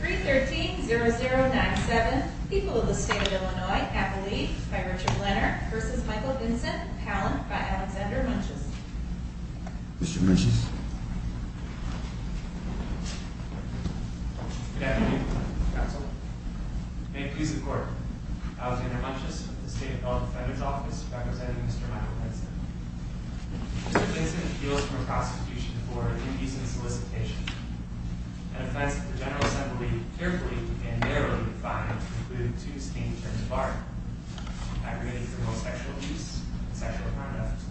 313-0097 People of the State of Illinois, Appalachia, by Richard Lennart v. Michael Vinson, Pallant, by Alexander Munches Mr. Munches Good afternoon, Council. May it please the Court, Alexander Munches of the State of Illinois Defender's Office, representing Mr. Michael Vinson. Mr. Vinson appeals for prosecution for abuse and solicitation, an offense that the General Assembly carefully and narrowly defined to include two distinct terms of art, aggravating criminal sexual abuse and sexual conduct.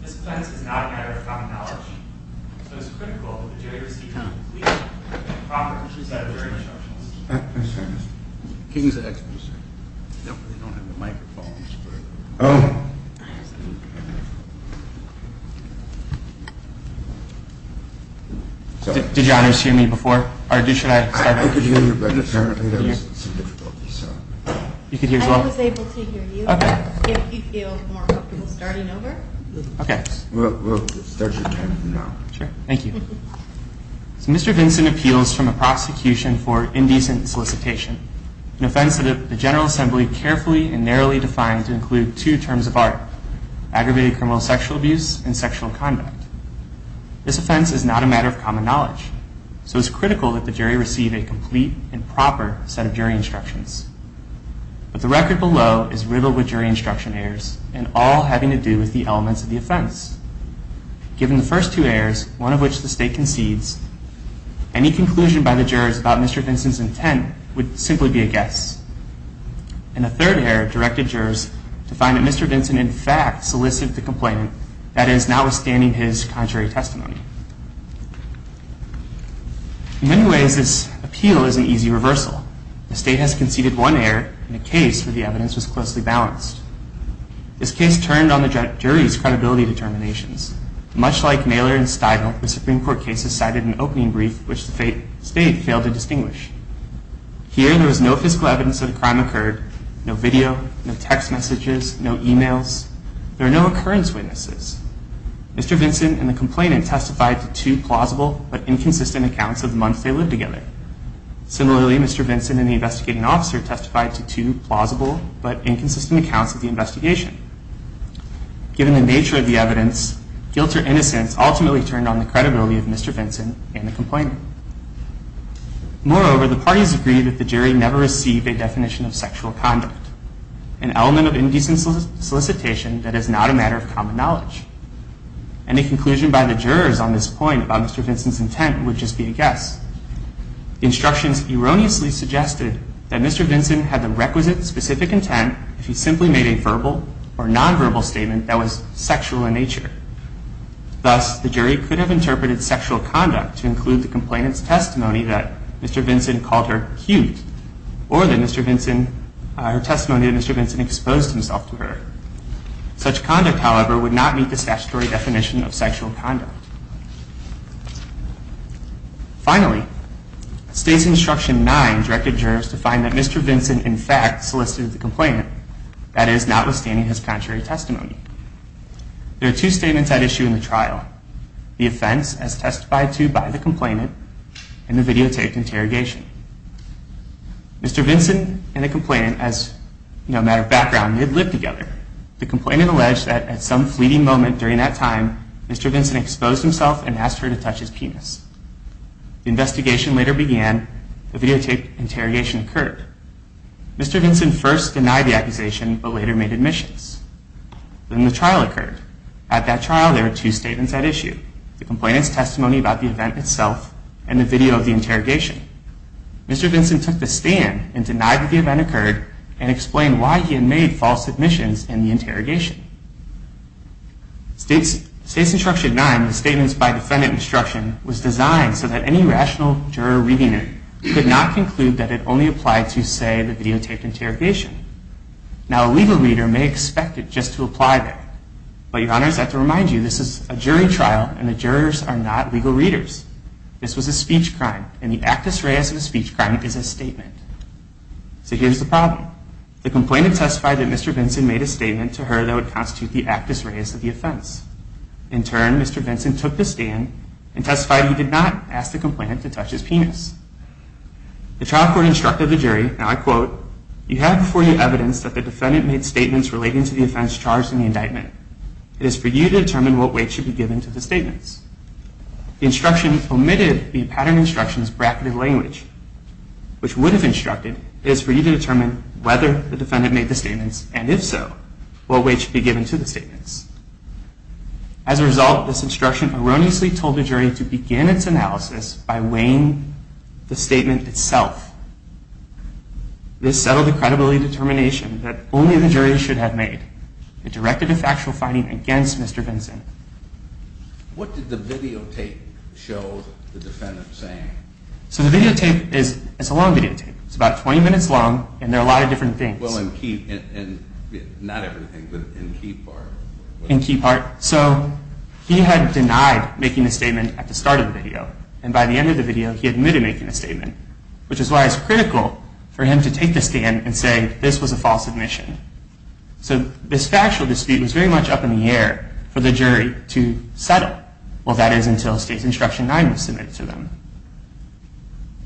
This offense is not a matter of common knowledge, so it is critical that the jury receive a complete and proper set of jury instructions. Did your honors here me before? I was able to hear you. If you feel more comfortable starting over. We'll start your time now. Sure. Thank you. Mr. Vincent appeals from a prosecution for indecent solicitation, an offense that the General Assembly carefully and narrowly defined to include two terms of art, aggravated criminal sexual abuse and sexual conduct. This offense is not a matter of common knowledge, so it's critical that the jury receive a complete and proper set of jury instructions. But the record below is riddled with jury instruction errors, and all having to do with the elements of the offense. Given the first two errors, one of which the State concedes, any conclusion by the jurors about Mr. Vincent's intent would simply be a guess. And the third error directed jurors to find that Mr. Vincent in fact solicited the complaint, that is, notwithstanding his contrary testimony. In many ways, this appeal is an easy reversal. The State has conceded one error in a case where the evidence was closely balanced. This case turned on the jury's credibility determinations. Much like Naylor and Stigall, the Supreme Court cases cited an opening brief, which the State failed to distinguish. Here, there was no physical evidence that a crime occurred, no video, no text messages, no emails. There are no occurrence witnesses. Mr. Vincent and the complainant testified to two plausible but inconsistent accounts of the months they lived together. Similarly, Mr. Vincent and the investigating officer testified to two plausible but inconsistent accounts of the investigation. Given the nature of the evidence, guilt or innocence ultimately turned on the credibility of Mr. Vincent and the complainant. Moreover, the parties agreed that the jury never received a definition of sexual conduct, an element of indecent solicitation that is not a matter of common knowledge. Any conclusion by the jurors on this point about Mr. Vincent's intent would just be a guess. The instructions erroneously suggested that Mr. Vincent had the requisite specific intent if he simply made a verbal or nonverbal statement that was sexual in nature. Thus, the jury could have interpreted sexual conduct to include the complainant's testimony that Mr. Vincent called her cute, or the testimony that Mr. Vincent exposed himself to her. Such conduct, however, would not meet the statutory definition of sexual conduct. Finally, States Instruction 9 directed jurors to find that Mr. Vincent, in fact, solicited the complainant, that is, notwithstanding his contrary testimony. There are two statements at issue in the trial. The offense, as testified to by the complainant, and the videotaped interrogation. Mr. Vincent and the complainant, as a matter of background, did live together. The complainant alleged that at some fleeting moment during that time, Mr. Vincent exposed himself and asked her to touch his penis. The investigation later began. The videotaped interrogation occurred. Mr. Vincent first denied the accusation, but later made admissions. Then the trial occurred. At that trial, there were two statements at issue. The complainant's testimony about the event itself, and the video of the interrogation. Mr. Vincent took the stand and denied that the event occurred, and explained why he had made false admissions in the interrogation. State Instruction 9, the Statements by Defendant Instruction, was designed so that any rational juror reading it could not conclude that it only applied to, say, the videotaped interrogation. Now, a legal reader may expect it just to apply that. But, Your Honor, I have to remind you, this is a jury trial, and the jurors are not legal readers. This was a speech crime, and the actus reus of a speech crime is a statement. So here's the problem. The complainant testified that Mr. Vincent made a statement to her that would constitute the actus reus of the offense. In turn, Mr. Vincent took the stand and testified he did not ask the complainant to touch his penis. The trial court instructed the jury, and I quote, You have before you evidence that the defendant made statements relating to the offense charged in the indictment. It is for you to determine what weight should be given to the statements. The instruction omitted the pattern instruction's bracketed language, it is for you to determine whether the defendant made the statements, and if so, what weight should be given to the statements. As a result, this instruction erroneously told the jury to begin its analysis by weighing the statement itself. This settled the credibility determination that only the jury should have made. It directed a factual finding against Mr. Vincent. What did the videotape show the defendant saying? So the videotape is, it's a long videotape. It's about 20 minutes long, and there are a lot of different things. Well, in key, not everything, but in key part. In key part, so he had denied making a statement at the start of the video, and by the end of the video, he admitted making a statement, which is why it's critical for him to take the stand and say this was a false admission. So this factual dispute was very much up in the air for the jury to settle. Well, that is until state's instruction 9 was submitted to them.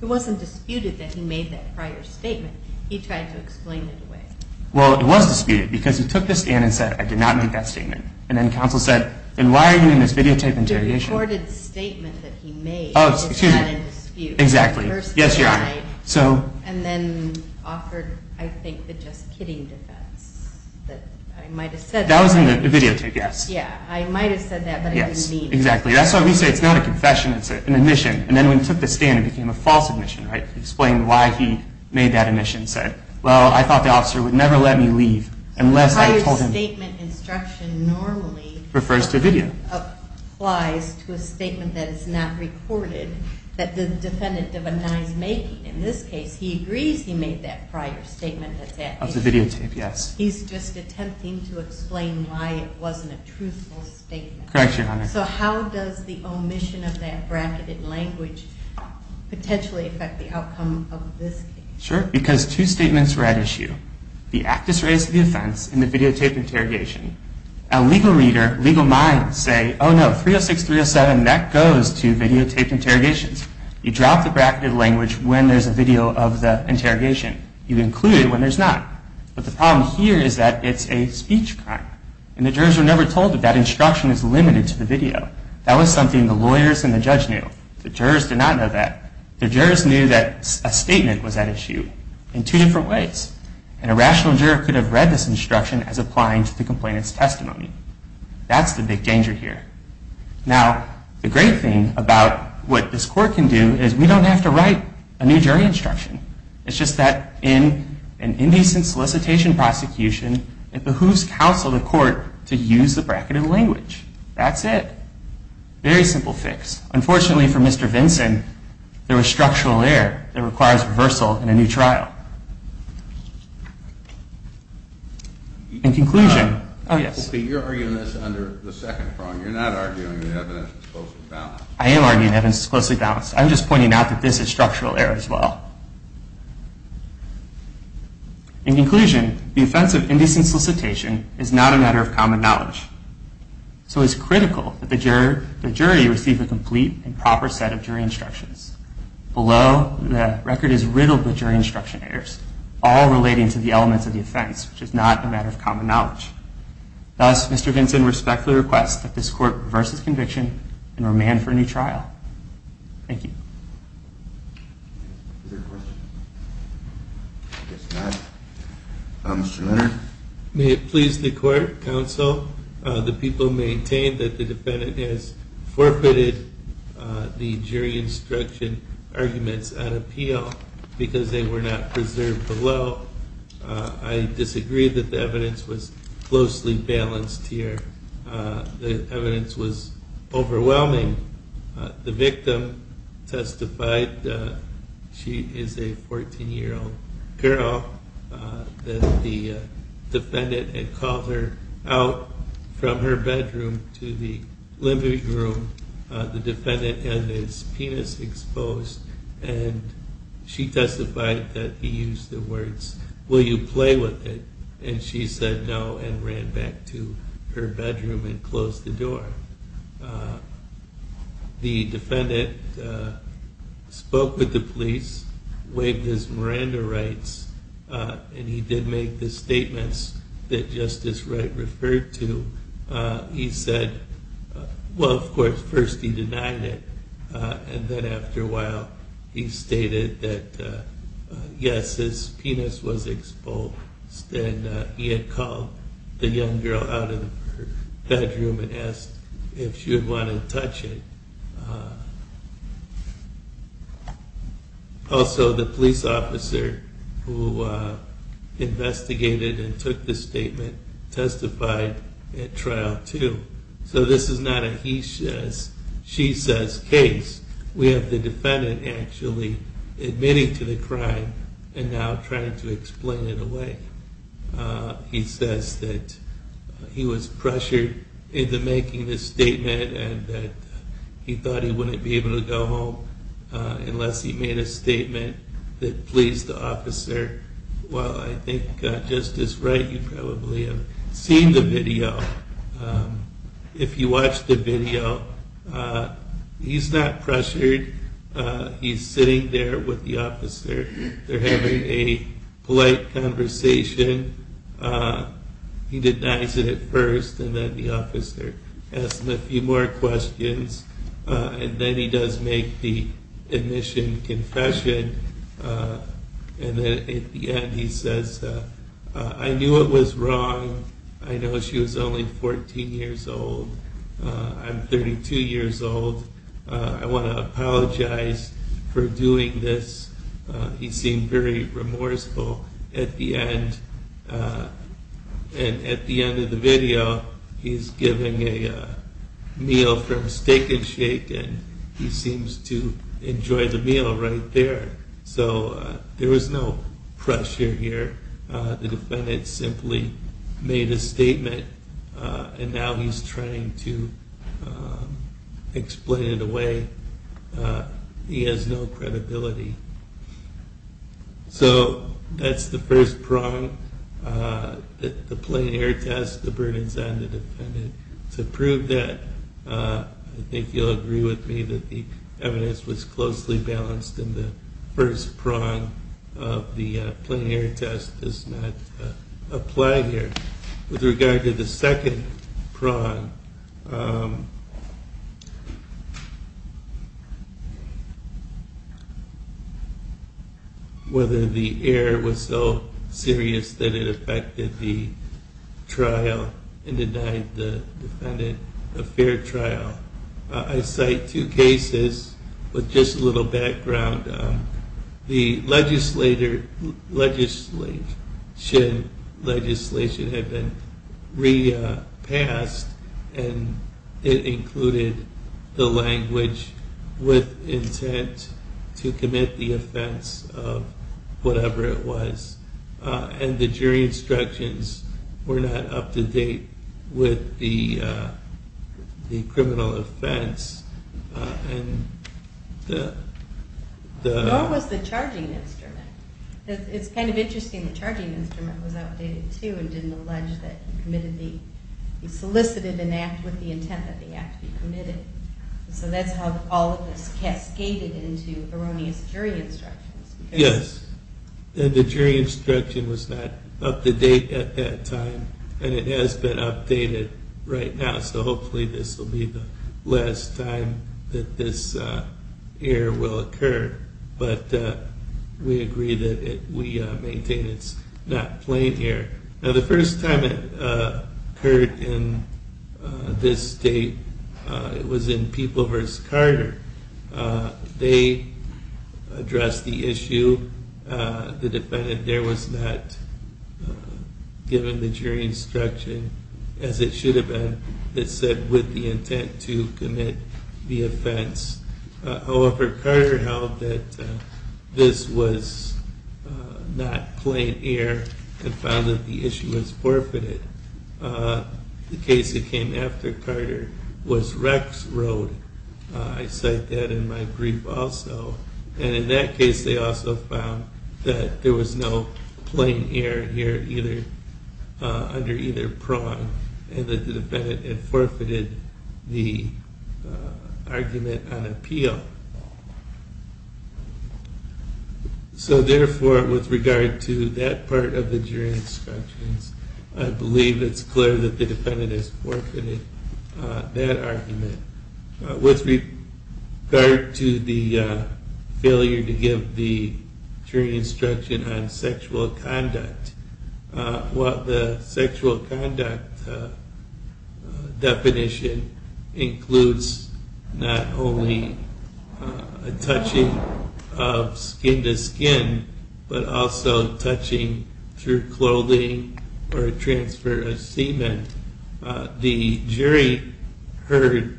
It wasn't disputed that he made that prior statement. He tried to explain it away. Well, it was disputed, because he took the stand and said, I did not make that statement. And then counsel said, then why are you in this videotape interrogation? The recorded statement that he made is not in dispute. Exactly. Yes, Your Honor. And then offered, I think, the just kidding defense that I might have said. That was in the videotape, yes. Yeah, I might have said that, but I didn't mean it. Exactly. That's why we say it's not a confession, it's an admission. And then when he took the stand, it became a false admission. He explained why he made that admission and said, well, I thought the officer would never let me leave unless I told him. The prior statement instruction normally applies to a statement that is not recorded, that the defendant did not make. In this case, he agrees he made that prior statement. Of the videotape, yes. He's just attempting to explain why it wasn't a truthful statement. Correct, Your Honor. So how does the omission of that bracketed language potentially affect the outcome of this case? Sure, because two statements were at issue. The act is raised to the offense in the videotaped interrogation. A legal reader, legal minds say, oh no, 306, 307, that goes to videotaped interrogations. You drop the bracketed language when there's a video of the interrogation. You include it when there's not. But the problem here is that it's a speech crime. And the jurors were never told that that instruction is limited to the video. That was something the lawyers and the judge knew. The jurors did not know that. The jurors knew that a statement was at issue in two different ways. And a rational juror could have read this instruction as applying to the complainant's testimony. That's the big danger here. Now, the great thing about what this court can do is we don't have to write a new jury instruction. It's just that in an indecent solicitation prosecution, it behooves counsel of the court to use the bracketed language. That's it. Very simple fix. Unfortunately for Mr. Vinson, there was structural error that requires reversal in a new trial. In conclusion, oh yes. Okay, you're arguing this under the second prong. You're not arguing the evidence is closely balanced. I am arguing the evidence is closely balanced. I'm just pointing out that this is structural error as well. In conclusion, the offense of indecent solicitation is not a matter of common knowledge. So it's critical that the jury receive a complete and proper set of jury instructions. Below, the record is riddled with jury instruction errors, all relating to the elements of the offense, which is not a matter of common knowledge. Thus, Mr. Vinson respectfully requests that this court reverse its conviction and remand for a new trial. Thank you. Is there a question? I guess not. Mr. Leonard? May it please the court, counsel, the people maintain that the defendant has forfeited the jury instruction arguments at appeal because they were not preserved below. I disagree that the evidence was closely balanced here. The evidence was overwhelming. The victim testified, she is a 14-year-old girl, that the defendant had called her out from her bedroom to the living room. The defendant had his penis exposed and she testified that he used the words, will you play with it? And she said no and ran back to her bedroom and closed the door. The defendant spoke with the police, waived his Miranda rights, and he did make the statements that Justice Wright referred to. He said, well, of course, first he denied it, and then after a while he stated that yes, his penis was exposed and he had called the young girl out of her bedroom and asked if she would want to touch it. Also, the police officer who investigated and took the statement testified at trial too. So this is not a he says, she says case. We have the defendant actually admitting to the crime and now trying to explain it away. He says that he was pressured into making this statement and that he thought he wouldn't be able to go home unless he made a statement that pleased the officer. Well, I think Justice Wright, you probably have seen the video. If you watch the video, he's not pressured. He's sitting there with the officer. They're having a polite conversation. He denies it at first, and then the officer asks him a few more questions. And then he does make the admission confession. And then at the end he says, I knew it was wrong. I know she was only 14 years old. I'm 32 years old. I want to apologize for doing this. He seemed very remorseful at the end. And at the end of the video, he's giving a meal from Steak and Shake and he seems to enjoy the meal right there. So there was no pressure here. The defendant simply made a statement and now he's trying to explain it away. He has no credibility. So that's the first prong. The plein air test, the burdens on the defendant. To prove that, I think you'll agree with me that the evidence was closely balanced and the first prong of the plein air test does not apply here. With regard to the second prong... Whether the error was so serious that it affected the trial and denied the defendant a fair trial. I cite two cases with just a little background. The legislation had been re-passed and it included the language with intent to commit the offense of whatever it was. And the jury instructions were not up to date with the criminal offense. Nor was the charging instrument. It's kind of interesting the charging instrument was outdated too and didn't allege that he solicited an act with the intent that the act be committed. So that's how all of this cascaded into erroneous jury instructions. Yes, the jury instruction was not up to date at that time and it has been updated right now. So hopefully this will be the last time that this error will occur. But we agree that we maintain it's not plein air. Now the first time it occurred in this state, it was in People v. Carter. They addressed the issue. The defendant there was not given the jury instruction as it should have been. It said with the intent to commit the offense. However, Carter held that this was not plein air and found that the issue was forfeited. The case that came after Carter was Rex Road. I cite that in my brief also. And in that case they also found that there was no plein air under either prong and that the defendant had forfeited the argument on appeal. So therefore with regard to that part of the jury instructions, I believe it's clear that the defendant has forfeited that argument. With regard to the failure to give the jury instruction on sexual conduct. The sexual conduct definition includes not only touching of skin to skin, but also touching through clothing or transfer of semen. The jury heard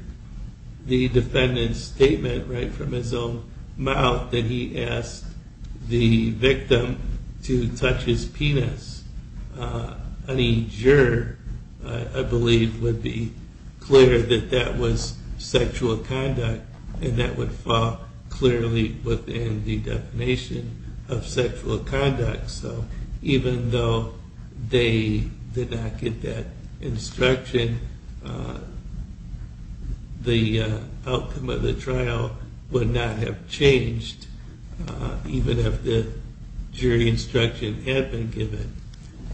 the defendant's statement right from his own mouth that he asked the victim to touch his penis. Any juror, I believe, would be clear that that was sexual conduct and that would fall clearly within the definition of sexual conduct. So even though they did not get that instruction, the outcome of the trial would not have changed even if the jury instruction had been given.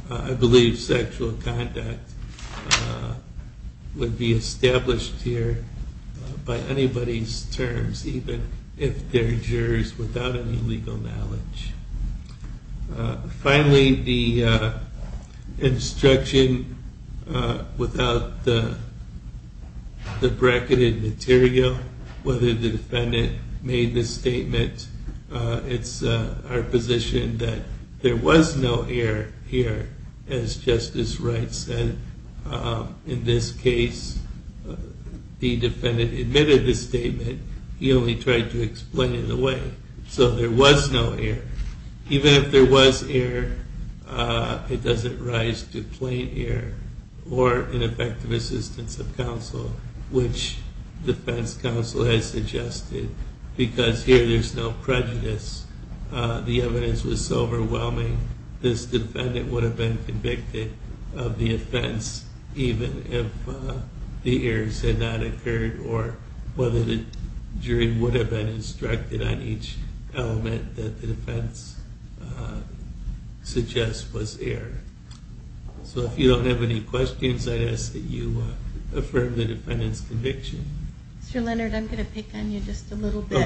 I believe sexual conduct would be established here by anybody's terms even if they're jurors without any legal knowledge. Finally, the instruction without the bracketed material, whether the defendant made the statement. It's our position that there was no air here as Justice Wright said. In this case the defendant admitted the statement, he only tried to explain it away. So there was no air. Even if there was air, it doesn't rise to plain air or ineffective assistance of counsel, which defense counsel has suggested. Because here there's no prejudice. The evidence was so overwhelming, this defendant would have been convicted of the offense even if the airs had not occurred. Or whether the jury would have been instructed on each element that the defense suggests was air. So if you don't have any questions, I'd ask that you affirm the defendant's conviction. Mr. Leonard, I'm going to pick on you just a little bit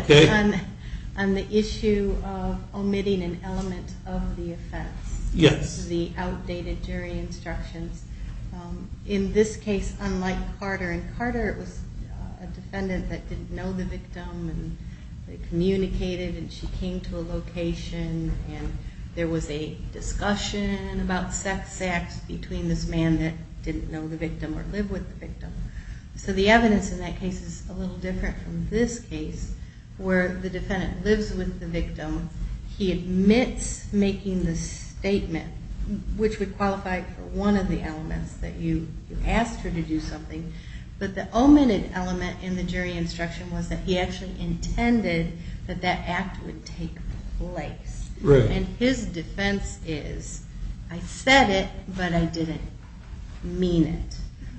on the issue of omitting an element of the offense. Yes. The outdated jury instructions. In this case, unlike Carter, and Carter was a defendant that didn't know the victim and communicated and she came to a location and there was a discussion about sex acts between this man that didn't know the victim or live with the victim. So the evidence in that case is a little different from this case where the defendant lives with the victim. He admits making the statement, which would qualify for one of the elements that you asked her to do something. But the omitted element in the jury instruction was that he actually intended that that act would take place. And his defense is, I said it, but I didn't mean it.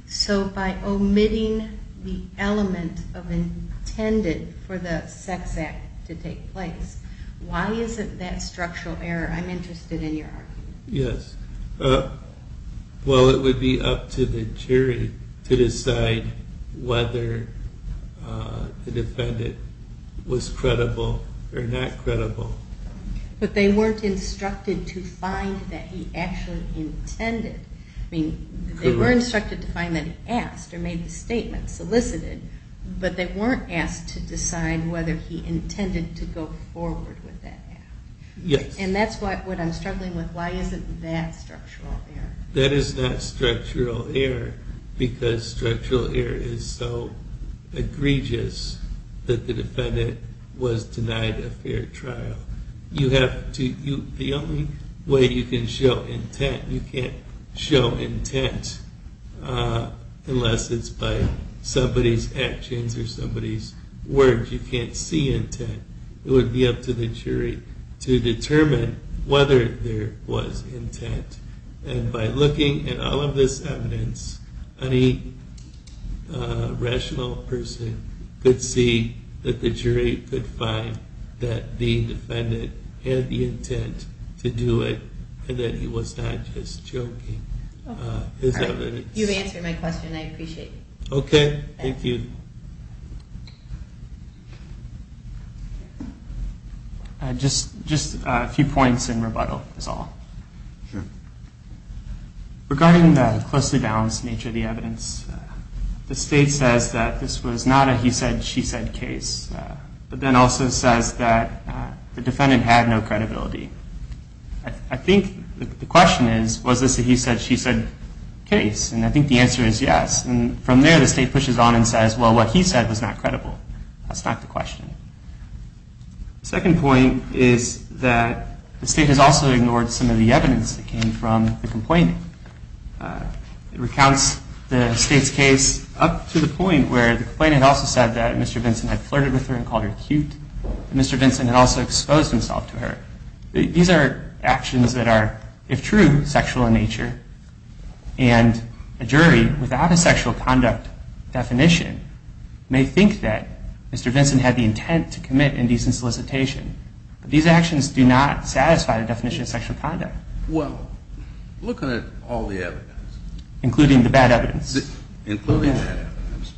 So by omitting the element of intended for the sex act to take place, why isn't that structural error? I'm interested in your argument. Yes. Well, it would be up to the jury to decide whether the defendant was credible or not credible. But they weren't instructed to find that he actually intended. They were instructed to find that he asked or made the statement, solicited, but they weren't asked to decide whether he intended to go forward with that act. And that's what I'm struggling with. Why isn't that structural error? That is not structural error because structural error is so egregious that the defendant was denied a fair trial. The only way you can show intent, you can't show intent unless it's by somebody's actions or somebody's words. You can't see intent. It would be up to the jury to determine whether there was intent. And by looking at all of this evidence, any rational person could see that the jury could find that the defendant had the intent to do it and that he was not just joking. You've answered my question. I appreciate it. Okay. Thank you. Just a few points in rebuttal is all. Regarding the closely balanced nature of the evidence, the state says that this was not a he said, she said case. But then also says that the defendant had no credibility. I think the question is, was this a he said, she said case? And I think the answer is yes. And from there, the state pushes on and says, well, what he said was not credible. That's not the question. The second point is that the state has also ignored some of the evidence that came from the complainant. It recounts the state's case up to the point where the complainant also said that Mr. Vinson had flirted with her and called her cute. Mr. Vinson had also exposed himself to her. These are actions that are, if true, sexual in nature. And a jury without a sexual conduct definition may think that Mr. Vinson had the intent to commit indecent solicitation. But these actions do not satisfy the definition of sexual conduct. Well, look at all the evidence. Including the bad evidence. Including the bad evidence.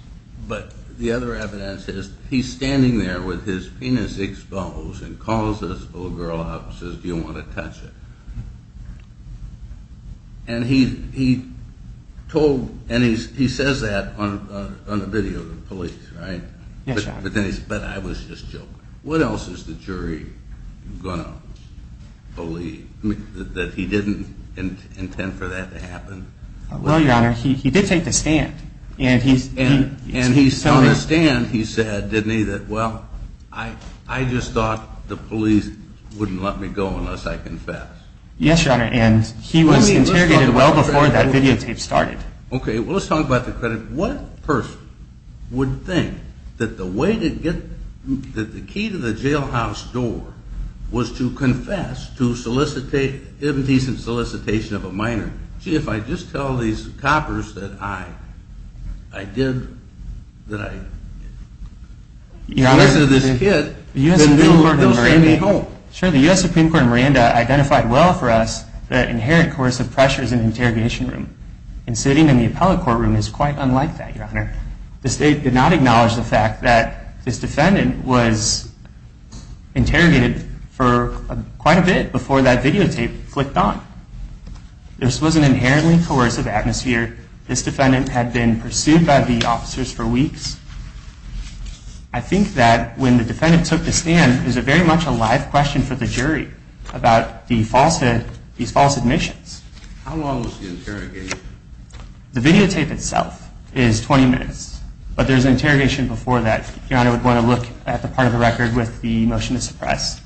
But the other evidence is he's standing there with his penis exposed and calls this little girl out and says, do you want to touch it? And he told, and he says that on a video to the police, right? Yes, Your Honor. But I was just joking. What else is the jury going to believe? That he didn't intend for that to happen? Well, Your Honor, he did take the stand. And he's telling us. And on the stand, he said, didn't he, that, well, I just thought the police wouldn't let me go unless I confessed. Yes, Your Honor, and he was interrogated well before that videotape started. Okay, well, let's talk about the credit. What person would think that the way to get, that the key to the jailhouse door was to confess to solicitation, indecent solicitation of a minor? Gee, if I just tell these coppers that I, I did, that I confessed to this kid, then they'll send me home. Sure, the U.S. Supreme Court in Miranda identified well for us the inherent coercive pressures in the interrogation room. And sitting in the appellate courtroom is quite unlike that, Your Honor. The state did not acknowledge the fact that this defendant was interrogated for quite a bit before that videotape flicked on. This was an inherently coercive atmosphere. This defendant had been pursued by the officers for weeks. I think that when the defendant took the stand, it was very much a live question for the jury about the false, these false admissions. How long was the interrogation? The videotape itself is 20 minutes, but there's an interrogation before that. Your Honor would want to look at the part of the record with the motion to suppress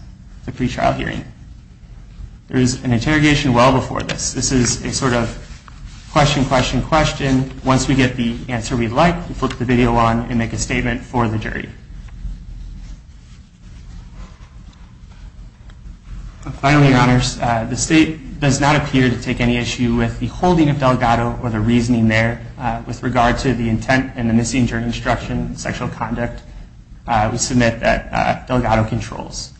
the pretrial hearing. There is an interrogation well before this. This is a sort of question, question, question. Once we get the answer we'd like, we flip the video on and make a statement for the jury. Finally, Your Honors, the state does not appear to take any issue with the holding of Delgado or the reasoning there. With regard to the intent and the missing jury instruction sexual conduct, we submit that Delgado controls.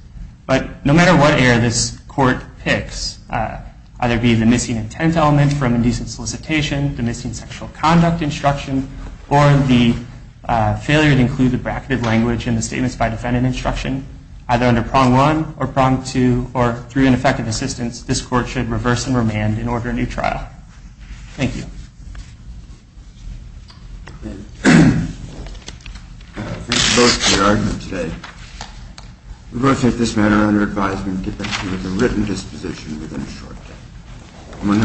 But no matter what error this court picks, either it be the missing intent element from indecent solicitation, the missing sexual conduct instruction, or the failure to include the bracketed language in the statements by defendant instruction, either under prong one or prong two, or through ineffective assistance, this court should reverse and remand and order a new trial. Thank you. Thank you both for your argument today. We will take this matter under advisement and get back to you with a written disposition within a short time.